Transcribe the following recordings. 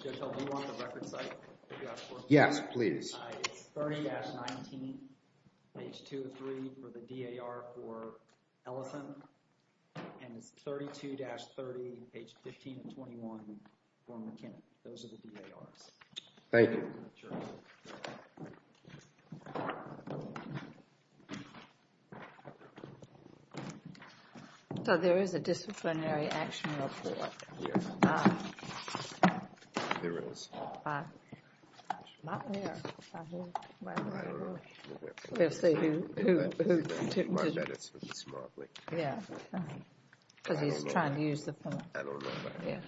Jotel, do you want the record site? Yes, please. It's 30-19, page 2 of 3 for the D.A.R. for Ellison. And it's 32-30, page 15 of 21 for McKinnon. Those are the D.A.R.s. Thank you. So there is a disciplinary action report. Yes. There is. By who? I don't know. We'll see who. I bet it's from Smartly. Yeah. Because he's trying to use the phone. I don't know. Yeah.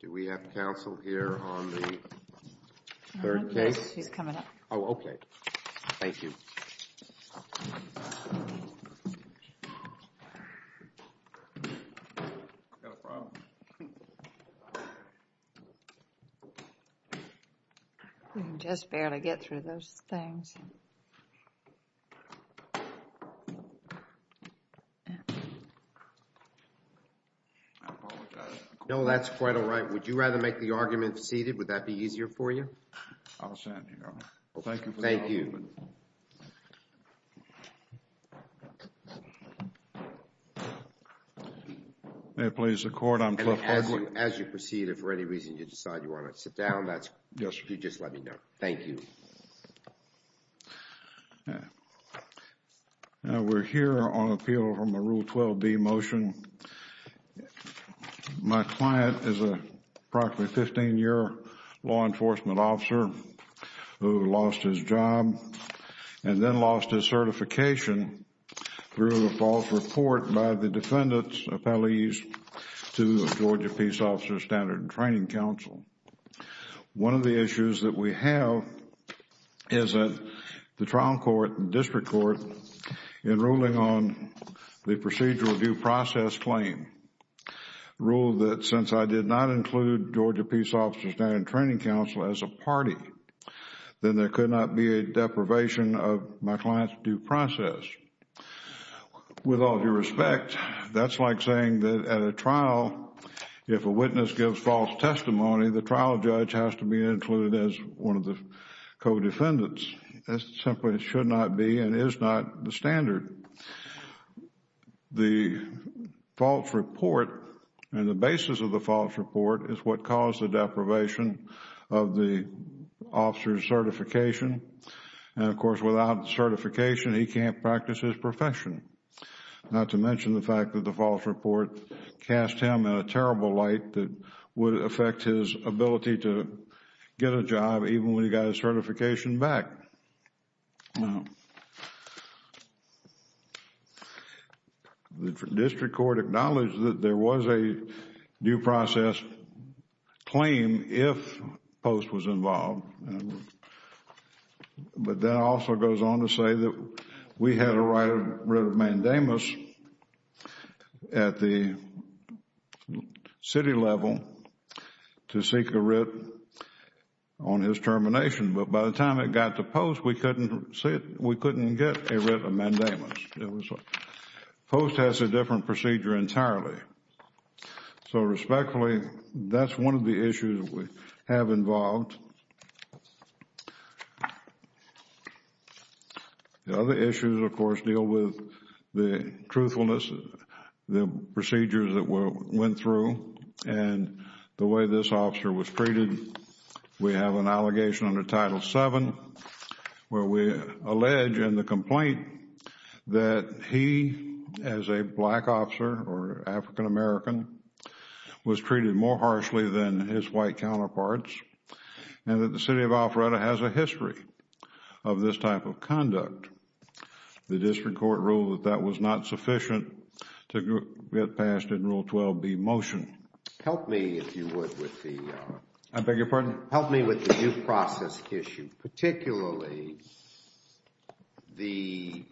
Do we have counsel here on the third case? She's coming up. Oh, okay. Thank you. Got a problem? We can just barely get through those things. I apologize. No, that's quite all right. Would you rather make the argument seated? Would that be easier for you? I'll stand here. Thank you. Thank you. Thank you. May it please the Court, I'm Cliff Hudson. As you proceed, if for any reason you decide you want to sit down, you just let me know. Thank you. We're here on appeal from the Rule 12b motion. My client is an approximately 15-year law enforcement officer who lost his job and then lost his certification through a false report by the defendant's appellees to the Georgia Peace Officers Standard and Training Council. One of the issues that we have is that the trial court and district court in ruling on the procedural due process claim ruled that since I did not include Georgia Peace Officers Standard and Training Council as a party, then there could not be a deprivation of my client's due process. With all due respect, that's like saying that at a trial, if a witness gives false testimony, the trial judge has to be included as one of the co-defendants. That simply should not be and is not the standard. The false report and the basis of the false report is what caused the deprivation of the officer's certification. Of course, without certification, he can't practice his profession. Not to mention the fact that the false report cast him in a terrible light that would affect his ability to get a job even when he got his certification back. The district court acknowledged that there was a due process claim if Post was involved. But that also goes on to say that we had a writ of mandamus at the city level to seek a writ on his termination. But by the time it got to Post, we couldn't get a writ of mandamus. Post has a different procedure entirely. Respectfully, that's one of the issues we have involved. The other issues, of course, deal with the truthfulness, the procedures that went through, and the way this officer was treated. We have an allegation under Title VII where we allege in the complaint that he, as a black officer or African American, was treated more harshly than his white counterparts and that the city of Alpharetta has a history of this type of conduct. The district court ruled that that was not sufficient to get passed in Rule 12b, Motion. Help me, if you would, with the due process issue. Particularly, the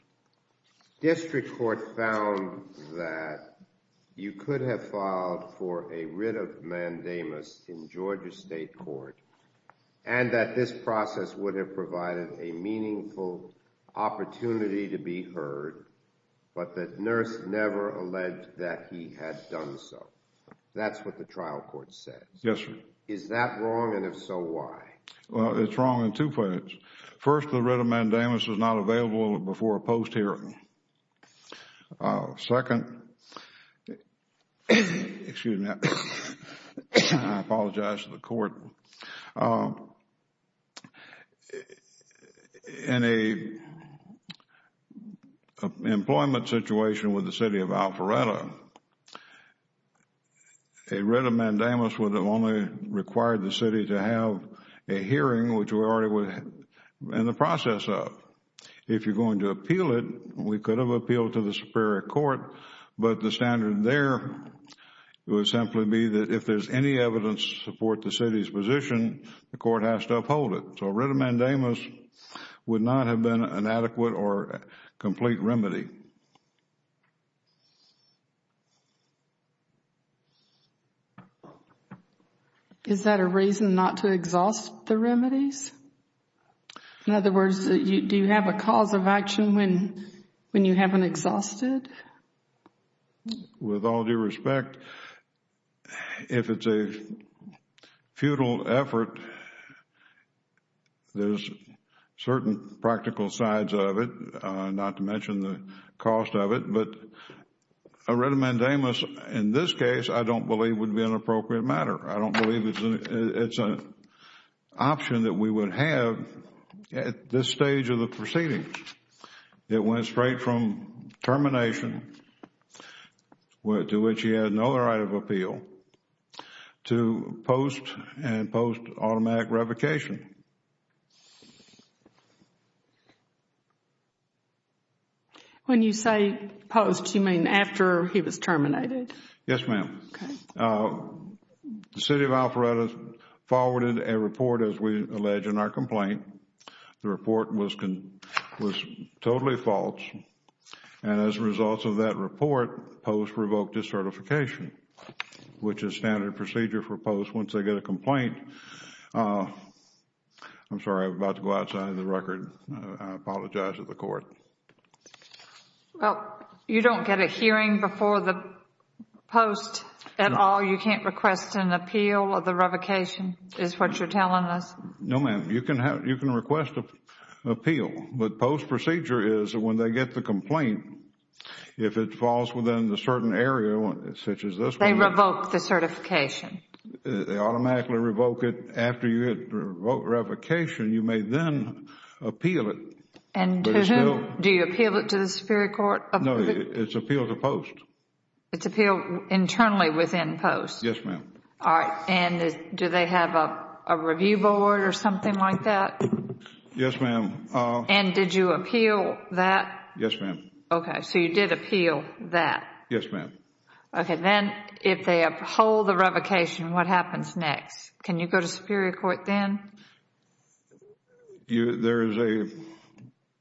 district court found that you could have filed for a writ of mandamus in Georgia state court and that this process would have provided a meaningful opportunity to be heard, but the nurse never alleged that he had done so. That's what the trial court said. Yes, sir. Is that wrong, and if so, why? Well, it's wrong in two places. First, the writ of mandamus was not available before a Post hearing. Second, in an employment situation with the city of Alpharetta, a writ of mandamus would have only required the city to have a hearing, which we were already in the process of. If you're going to appeal it, we could have appealed to the Superior Court, but the standard there would simply be that if there's any evidence to support the city's position, the court has to uphold it. So a writ of mandamus would not have been an adequate or complete remedy. Is that a reason not to exhaust the remedies? In other words, do you have a cause of action when you haven't exhausted? With all due respect, if it's a futile effort, there's certain practical sides of it, not to mention the cost of it, but a writ of mandamus in this case I don't believe would be an appropriate matter. I don't believe it's an option that we would have at this stage of the proceedings. It went straight from termination, to which he had no right of appeal, to post and post-automatic revocation. When you say post, you mean after he was terminated? Yes, ma'am. Okay. The City of Alpharetta forwarded a report, as we allege in our complaint. The report was totally false, and as a result of that report, post revoked his certification, which is standard procedure for post once they get a complaint. I'm sorry, I'm about to go outside of the record. I apologize to the court. Well, you don't get a hearing before the post at all? No. You can't request an appeal of the revocation, is what you're telling us? No, ma'am. You can request an appeal, but post procedure is when they get the complaint, if it falls within a certain area, such as this one. They revoke the certification. They automatically revoke it. After you revoke revocation, you may then appeal it. Do you appeal it to the Superior Court? No, it's appeal to post. It's appeal internally within post? Yes, ma'am. Do they have a review board or something like that? Yes, ma'am. Did you appeal that? Yes, ma'am. Okay, so you did appeal that. Yes, ma'am. Then if they uphold the revocation, what happens next? Can you go to Superior Court then? There is a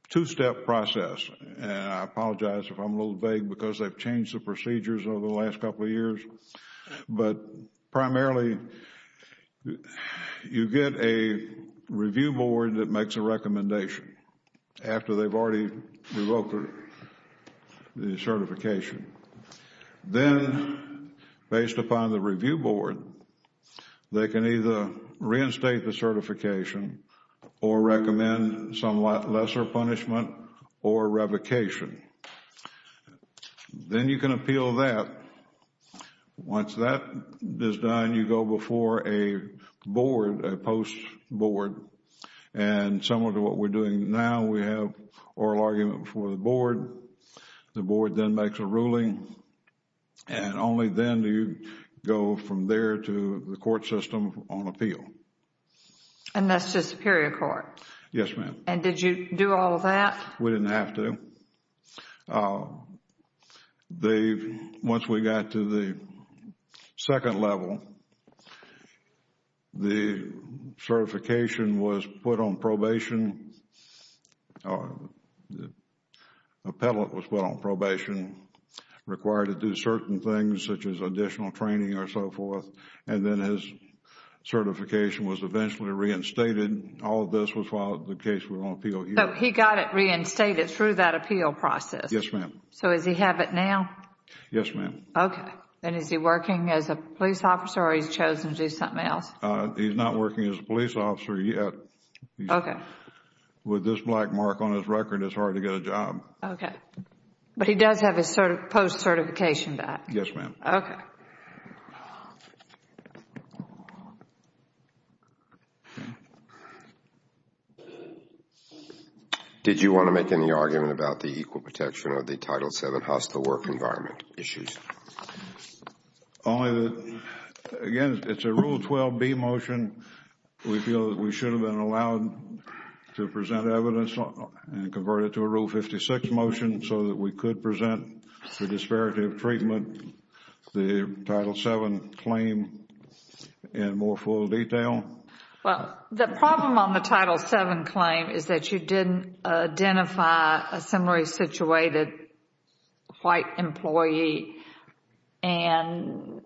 two-step process, and I apologize if I'm a little vague because they've changed the procedures over the last couple of years. But primarily, you get a review board that makes a recommendation after they've already revoked the certification. Then, based upon the review board, they can either reinstate the certification or recommend some lesser punishment or revocation. Then you can appeal that. Once that is done, you go before a board, a post board. And similar to what we're doing now, we have oral argument before the board. The board then makes a ruling, and only then do you go from there to the court system on appeal. And that's to Superior Court? Yes, ma'am. And did you do all of that? We didn't have to. Once we got to the second level, the certification was put on probation. The appellate was put on probation, required to do certain things such as additional training or so forth. And then his certification was eventually reinstated. All of this was filed in the case we're going to appeal here. So he got it reinstated through that appeal process? Yes, ma'am. So does he have it now? Yes, ma'am. Okay. And is he working as a police officer or he's chosen to do something else? He's not working as a police officer yet. Okay. With this black mark on his record, it's hard to get a job. Okay. But he does have his post certification back? Yes, ma'am. Okay. Did you want to make any argument about the equal protection of the Title VII hostile work environment issues? Again, it's a Rule 12B motion. We feel that we should have been allowed to present evidence and convert it to a Rule 56 motion so that we could present the disparity of treatment, the Title VII claim in more full detail. Well, the problem on the Title VII claim is that you didn't identify a similarly situated white employee. And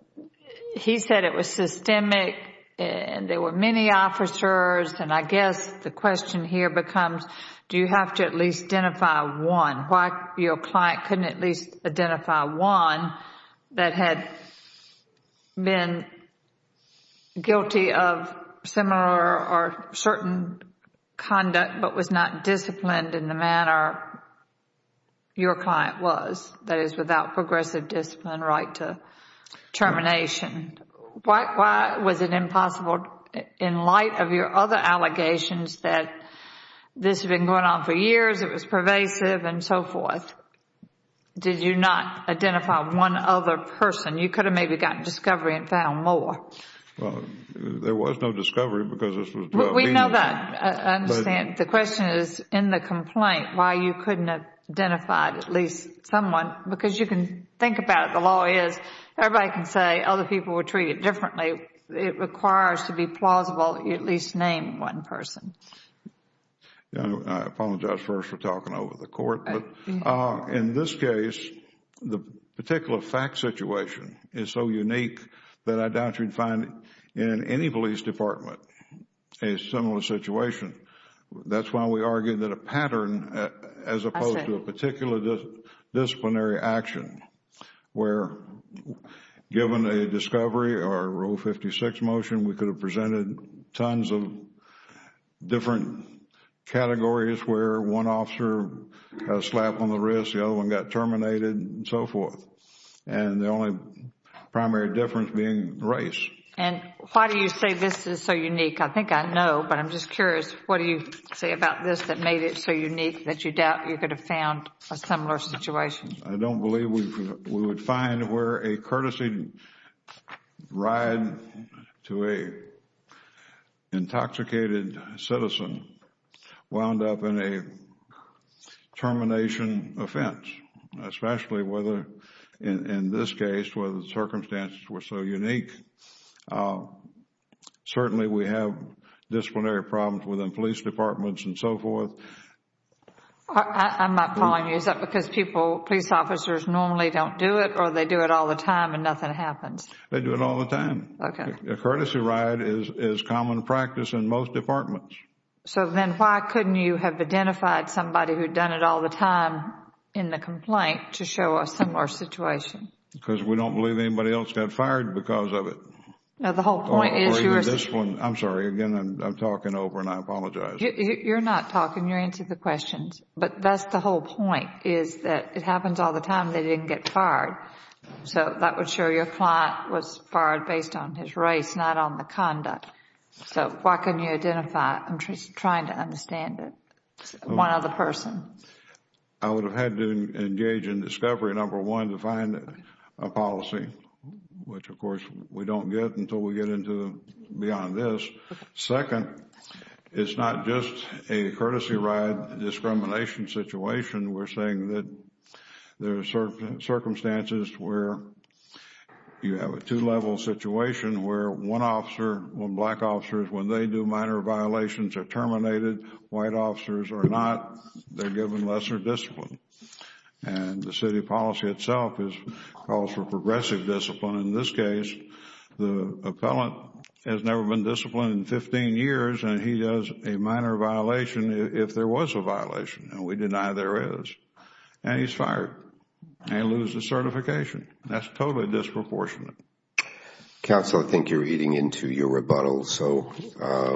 he said it was systemic and there were many officers. And I guess the question here becomes do you have to at least identify one? Why your client couldn't at least identify one that had been guilty of similar or certain conduct but was not disciplined in the manner your client was, that is, without progressive discipline right to termination? Why was it impossible in light of your other allegations that this had been going on for years, it was pervasive and so forth, did you not identify one other person? You could have maybe gotten discovery and found more. Well, there was no discovery because this was about me. We know that. I understand. The question is in the complaint why you couldn't have identified at least someone because you can think about it. The law is everybody can say other people were treated differently. It requires to be plausible that you at least name one person. I apologize first for talking over the court. In this case, the particular fact situation is so unique that I doubt you'd find in any police department a similar situation. That's why we argue that a pattern as opposed to a particular disciplinary action where given a discovery or a Rule 56 motion, we could have presented tons of different categories where one officer had a slap on the wrist, the other one got terminated and so forth. And the only primary difference being race. And why do you say this is so unique? I think I know, but I'm just curious. What do you say about this that made it so unique that you doubt you could have found a similar situation? I don't believe we would find where a courtesy ride to an intoxicated citizen wound up in a termination offense, especially in this case where the circumstances were so unique. Certainly, we have disciplinary problems within police departments and so forth. I'm not following you. Is that because police officers normally don't do it or they do it all the time and nothing happens? They do it all the time. Okay. A courtesy ride is common practice in most departments. So then why couldn't you have identified somebody who had done it all the time in the complaint to show a similar situation? Because we don't believe anybody else got fired because of it. Now, the whole point is you are saying I'm sorry. Again, I'm talking over and I apologize. You're not talking. You're answering the questions. But that's the whole point is that it happens all the time. They didn't get fired. So that would show your client was fired based on his race, not on the conduct. So why couldn't you identify? I'm just trying to understand it. One other person. I would have had to engage in discovery, number one, to find a policy, which, of course, we don't get until we get beyond this. Second, it's not just a courtesy ride discrimination situation. We're saying that there are circumstances where you have a two-level situation where one officer, one black officer, when they do minor violations, are terminated. White officers are not. They're given lesser discipline. And the city policy itself calls for progressive discipline. In this case, the appellant has never been disciplined in 15 years and he does a minor violation if there was a violation. And we deny there is. And he's fired. And he loses certification. That's totally disproportionate. Counsel, I think you're eating into your rebuttal. So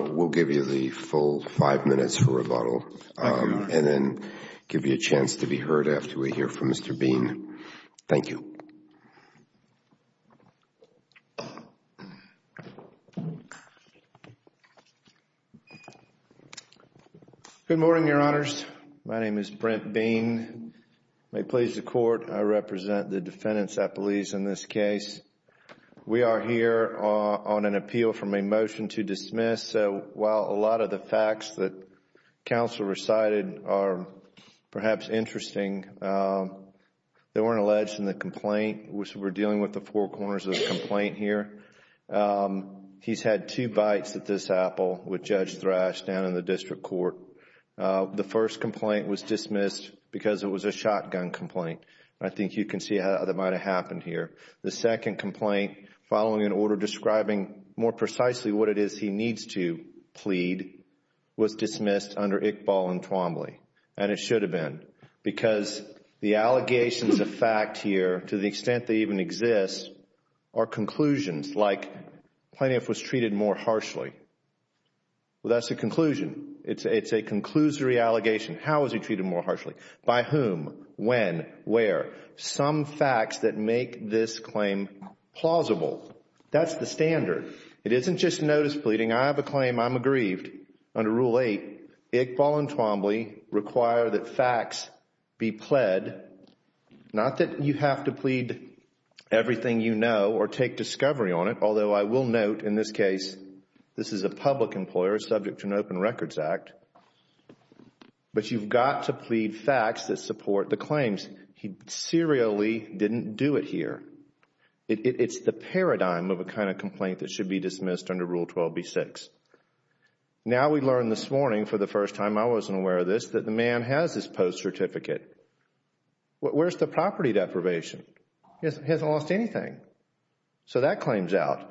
we'll give you the full five minutes for rebuttal. And then give you a chance to be heard after we hear from Mr. Bean. Thank you. Good morning, Your Honors. My name is Brent Bean. May it please the Court, I represent the defendants, I believe, in this case. We are here on an appeal from a motion to dismiss. So while a lot of the facts that counsel recited are perhaps interesting, they weren't alleged in the complaint. We're dealing with the four corners of the complaint here. He's had two bites at this apple with Judge Thrash down in the district court. The first complaint was dismissed because it was a shotgun complaint. I think you can see how that might have happened here. The second complaint following an order describing more precisely what it is he needs to plead was dismissed under Iqbal and Twombly. And it should have been. Because the allegations of fact here, to the extent they even exist, are conclusions like Plaintiff was treated more harshly. Well, that's a conclusion. It's a conclusory allegation. How was he treated more harshly? By whom? When? Where? Some facts that make this claim plausible. That's the standard. It isn't just notice pleading. I have a claim. I'm aggrieved. Under Rule 8, Iqbal and Twombly require that facts be pled. Not that you have to plead everything you know or take discovery on it, although I will note in this case this is a public employer subject to an Open Records Act. But you've got to plead facts that support the claims. He serially didn't do it here. It's the paradigm of a kind of complaint that should be dismissed under Rule 12b-6. Now we learn this morning, for the first time I wasn't aware of this, that the man has his post certificate. Where's the property deprivation? He hasn't lost anything. So that claims out.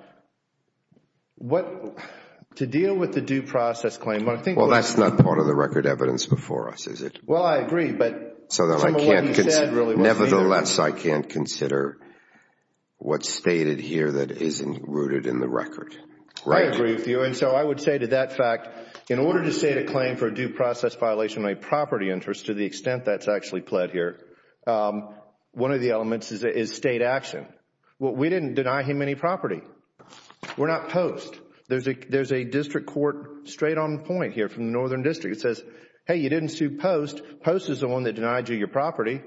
To deal with the due process claim, what I think is Well, that's not part of the record evidence before us, is it? Well, I agree, but Nevertheless, I can't consider what's stated here that isn't rooted in the record. I agree with you, and so I would say to that fact, in order to state a claim for a due process violation of a property interest to the extent that's actually pled here, one of the elements is state action. We didn't deny him any property. We're not post. There's a district court straight on point here from the Northern District that says, hey, you didn't sue post. Post is the one that denied you your property.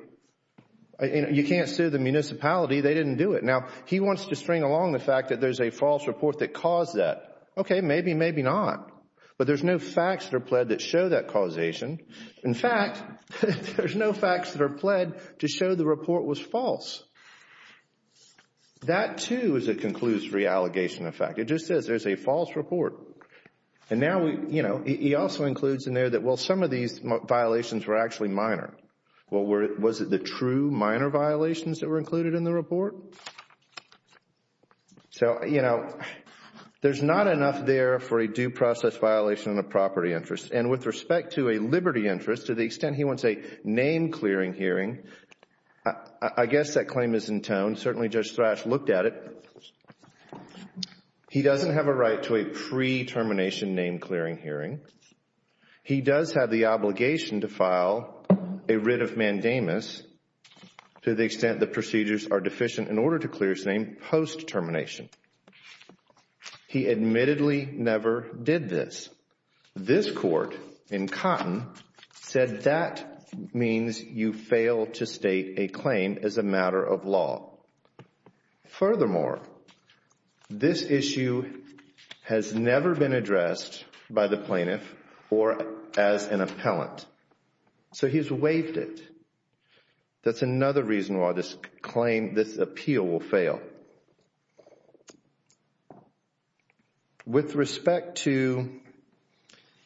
You can't sue the municipality. They didn't do it. Now, he wants to string along the fact that there's a false report that caused that. Okay, maybe, maybe not. But there's no facts that are pled that show that causation. In fact, there's no facts that are pled to show the report was false. That, too, is a conclusive reallegation of fact. It just says there's a false report. And now, you know, he also includes in there that, well, some of these violations were actually minor. Well, was it the true minor violations that were included in the report? So, you know, there's not enough there for a due process violation of a property interest. And with respect to a liberty interest, to the extent he wants a name-clearing hearing, I guess that claim is in tone. Certainly Judge Thrash looked at it. He doesn't have a right to a pre-termination name-clearing hearing. He does have the obligation to file a writ of mandamus to the extent the procedures are deficient in order to clear his name post-termination. He admittedly never did this. This court in Cotton said that means you fail to state a claim as a matter of law. Furthermore, this issue has never been addressed by the plaintiff or as an appellant. So he's waived it. That's another reason why this appeal will fail. All right. With respect to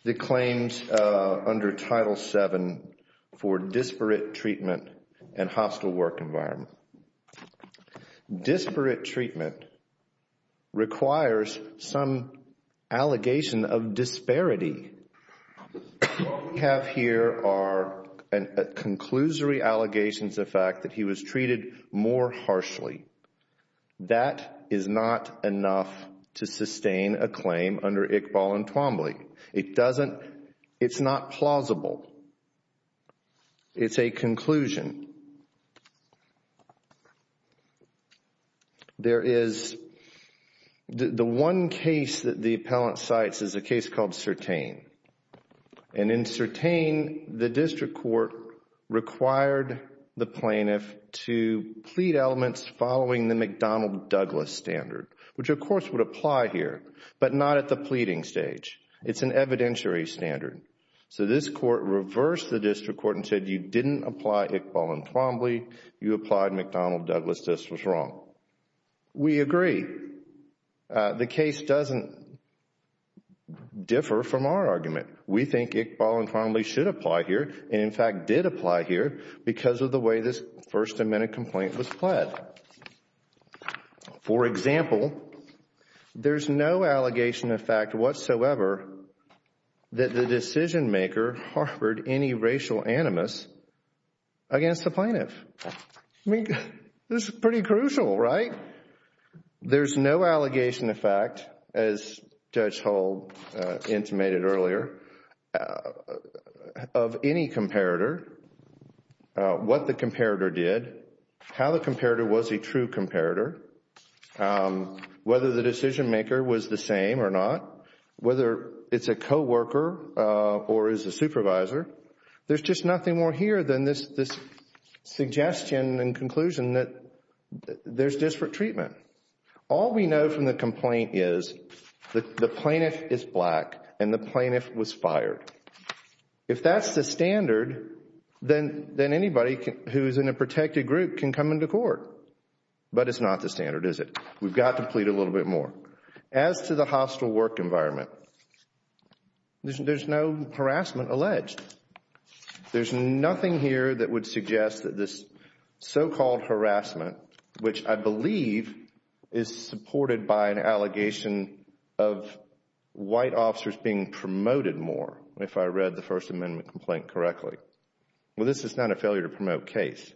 the claims under Title VII for disparate treatment and hostile work environment, disparate treatment requires some allegation of disparity. What we have here are conclusory allegations of fact that he was treated more harshly. That is not enough to sustain a claim under Iqbal and Twombly. It doesn't, it's not plausible. It's a conclusion. There is, the one case that the appellant cites is a case called Sertain. In Sertain, the district court required the plaintiff to plead elements following the McDonnell-Douglas standard, which of course would apply here, but not at the pleading stage. It's an evidentiary standard. So this court reversed the district court and said you didn't apply Iqbal and Twombly, you applied McDonnell-Douglas, this was wrong. We agree. The case doesn't differ from our argument. We think Iqbal and Twombly should apply here, and in fact did apply here, because of the way this First Amendment complaint was pled. For example, there's no allegation of fact whatsoever that the decision maker harbored any racial animus against the plaintiff. I mean, this is pretty crucial, right? There's no allegation of fact, as Judge Hull intimated earlier, of any comparator, what the comparator did, how the comparator was a true comparator, whether the decision maker was the same or not, whether it's a co-worker or is a supervisor. There's just nothing more here than this suggestion and conclusion that there's disparate treatment. All we know from the complaint is that the plaintiff is black and the plaintiff was fired. If that's the standard, then anybody who's in a protected group can come into court. But it's not the standard, is it? We've got to plead a little bit more. As to the hostile work environment, there's no harassment alleged. There's nothing here that would suggest that this so-called harassment, which I believe is supported by an allegation of white officers being promoted more, if I read the First Amendment complaint correctly. Well, this is not a failure to promote case.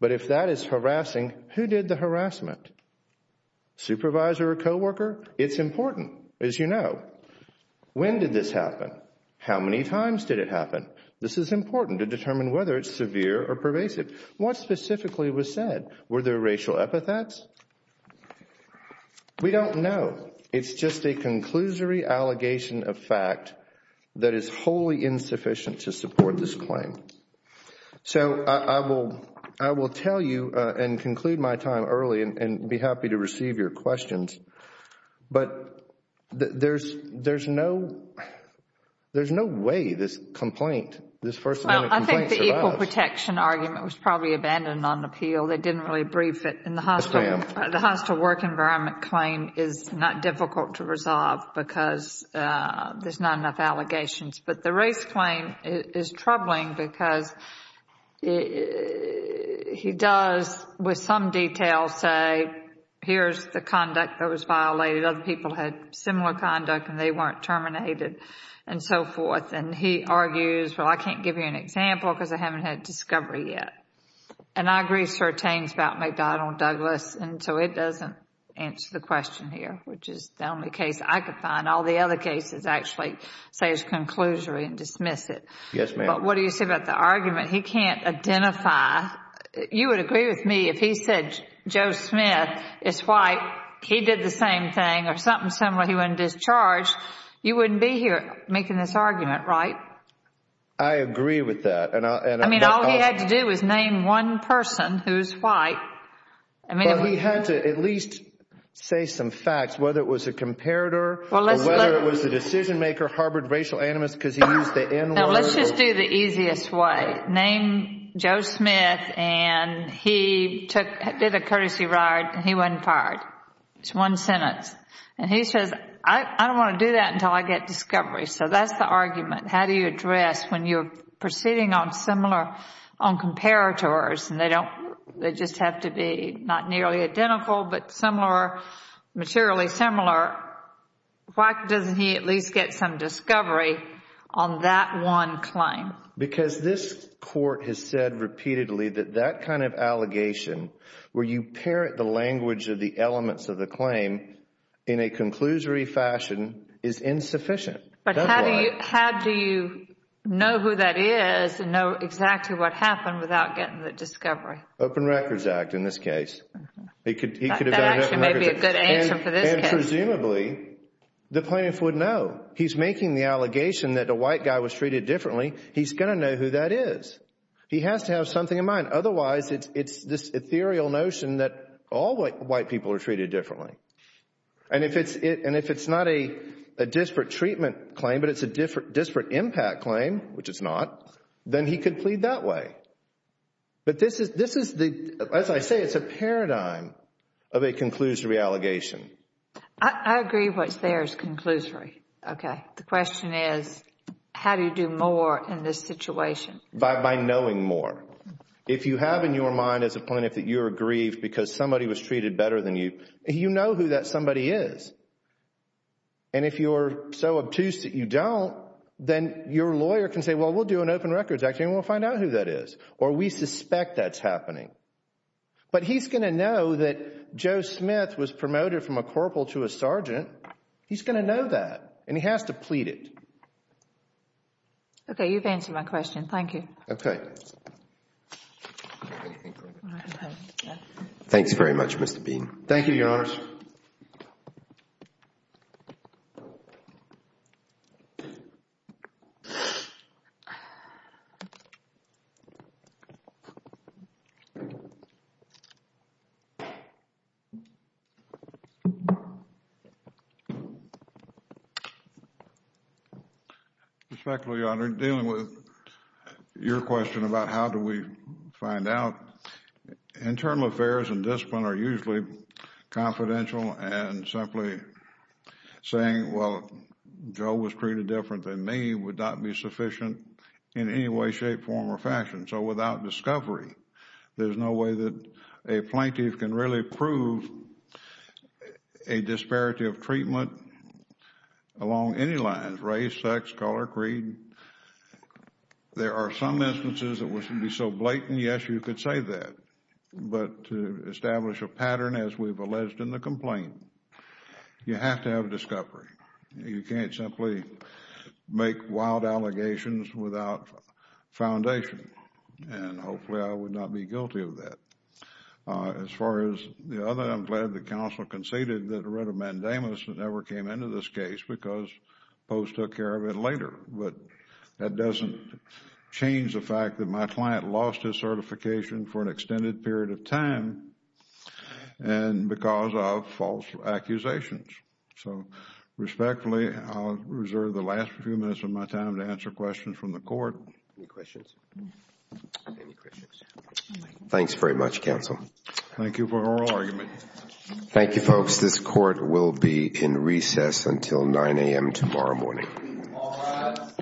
But if that is harassing, who did the harassment? Supervisor or co-worker? It's important, as you know. When did this happen? How many times did it happen? This is important to determine whether it's severe or pervasive. What specifically was said? Were there racial epithets? We don't know. It's just a conclusory allegation of fact that is wholly insufficient to support this claim. So I will tell you and conclude my time early and be happy to receive your questions. But there's no way this complaint, this First Amendment complaint, survives. The equal protection argument was probably abandoned on appeal. They didn't really brief it. The hostile work environment claim is not difficult to resolve because there's not enough allegations. But the race claim is troubling because he does, with some detail, say here's the conduct that was violated. Other people had similar conduct and they weren't terminated and so forth. And he argues, well, I can't give you an example because I haven't had discovery yet. And I agree, sir, it's about McDonnell Douglas and so it doesn't answer the question here, which is the only case I could find. All the other cases actually say it's conclusory and dismiss it. Yes, ma'am. But what do you say about the argument? He can't identify. You would agree with me if he said Joe Smith is white, he did the same thing or something similar. He wasn't discharged. You wouldn't be here making this argument, right? I agree with that. I mean, all he had to do was name one person who's white. Well, he had to at least say some facts, whether it was a comparator or whether it was the decision maker, Harvard racial animus because he used the N word. No, let's just do the easiest way. Name Joe Smith and he did a courtesy ride and he wasn't fired. It's one sentence. And he says, I don't want to do that until I get discovery. So that's the argument. How do you address when you're proceeding on similar, on comparators and they just have to be not nearly identical but similar, materially similar, why doesn't he at least get some discovery on that one claim? Because this Court has said repeatedly that that kind of allegation, where you parent the language of the elements of the claim in a conclusory fashion, is insufficient. But how do you know who that is and know exactly what happened without getting the discovery? Open Records Act in this case. That actually may be a good answer for this case. And presumably, the plaintiff would know. He's making the allegation that a white guy was treated differently. He's going to know who that is. He has to have something in mind. Otherwise, it's this ethereal notion that all white people are treated differently. And if it's not a disparate treatment claim but it's a disparate impact claim, which it's not, then he could plead that way. But this is, as I say, it's a paradigm of a conclusory allegation. I agree what's there is conclusory. Okay. The question is, how do you do more in this situation? By knowing more. If you have in your mind as a plaintiff that you're aggrieved because somebody was treated better than you, you know who that somebody is. And if you're so obtuse that you don't, then your lawyer can say, well, we'll do an Open Records Act and we'll find out who that is. Or we suspect that's happening. But he's going to know that Joe Smith was promoted from a corporal to a sergeant. He's going to know that. And he has to plead it. Okay. You've answered my question. Thank you. Okay. Thanks very much, Mr. Bean. Thank you, Your Honours. Respectfully, Your Honour, dealing with your question about how do we find out, internal affairs and discipline are usually confidential and simply saying, well, Joe was treated different than me would not be sufficient in any way, shape, form, or fashion. So without discovery, there's no way that a plaintiff can really prove a disparity of treatment along any lines, race, sex, color, creed. There are some instances that would be so blatant, yes, you could say that. But to establish a pattern as we've alleged in the complaint, you have to have discovery. You can't simply make wild allegations without foundation. And hopefully I would not be guilty of that. As far as the other, I'm glad the counsel conceded that a writ of mandamus never came into this case because Post took care of it later. But that doesn't change the fact that my client lost his certification for an extended period of time and because of false accusations. So respectfully, I'll reserve the last few minutes of my time to answer questions from the Court. Any questions? Any questions? Thanks very much, counsel. Thank you for your argument. Thank you, folks. This Court will be in recess until 9 a.m. tomorrow morning. All rise. Thank you very much.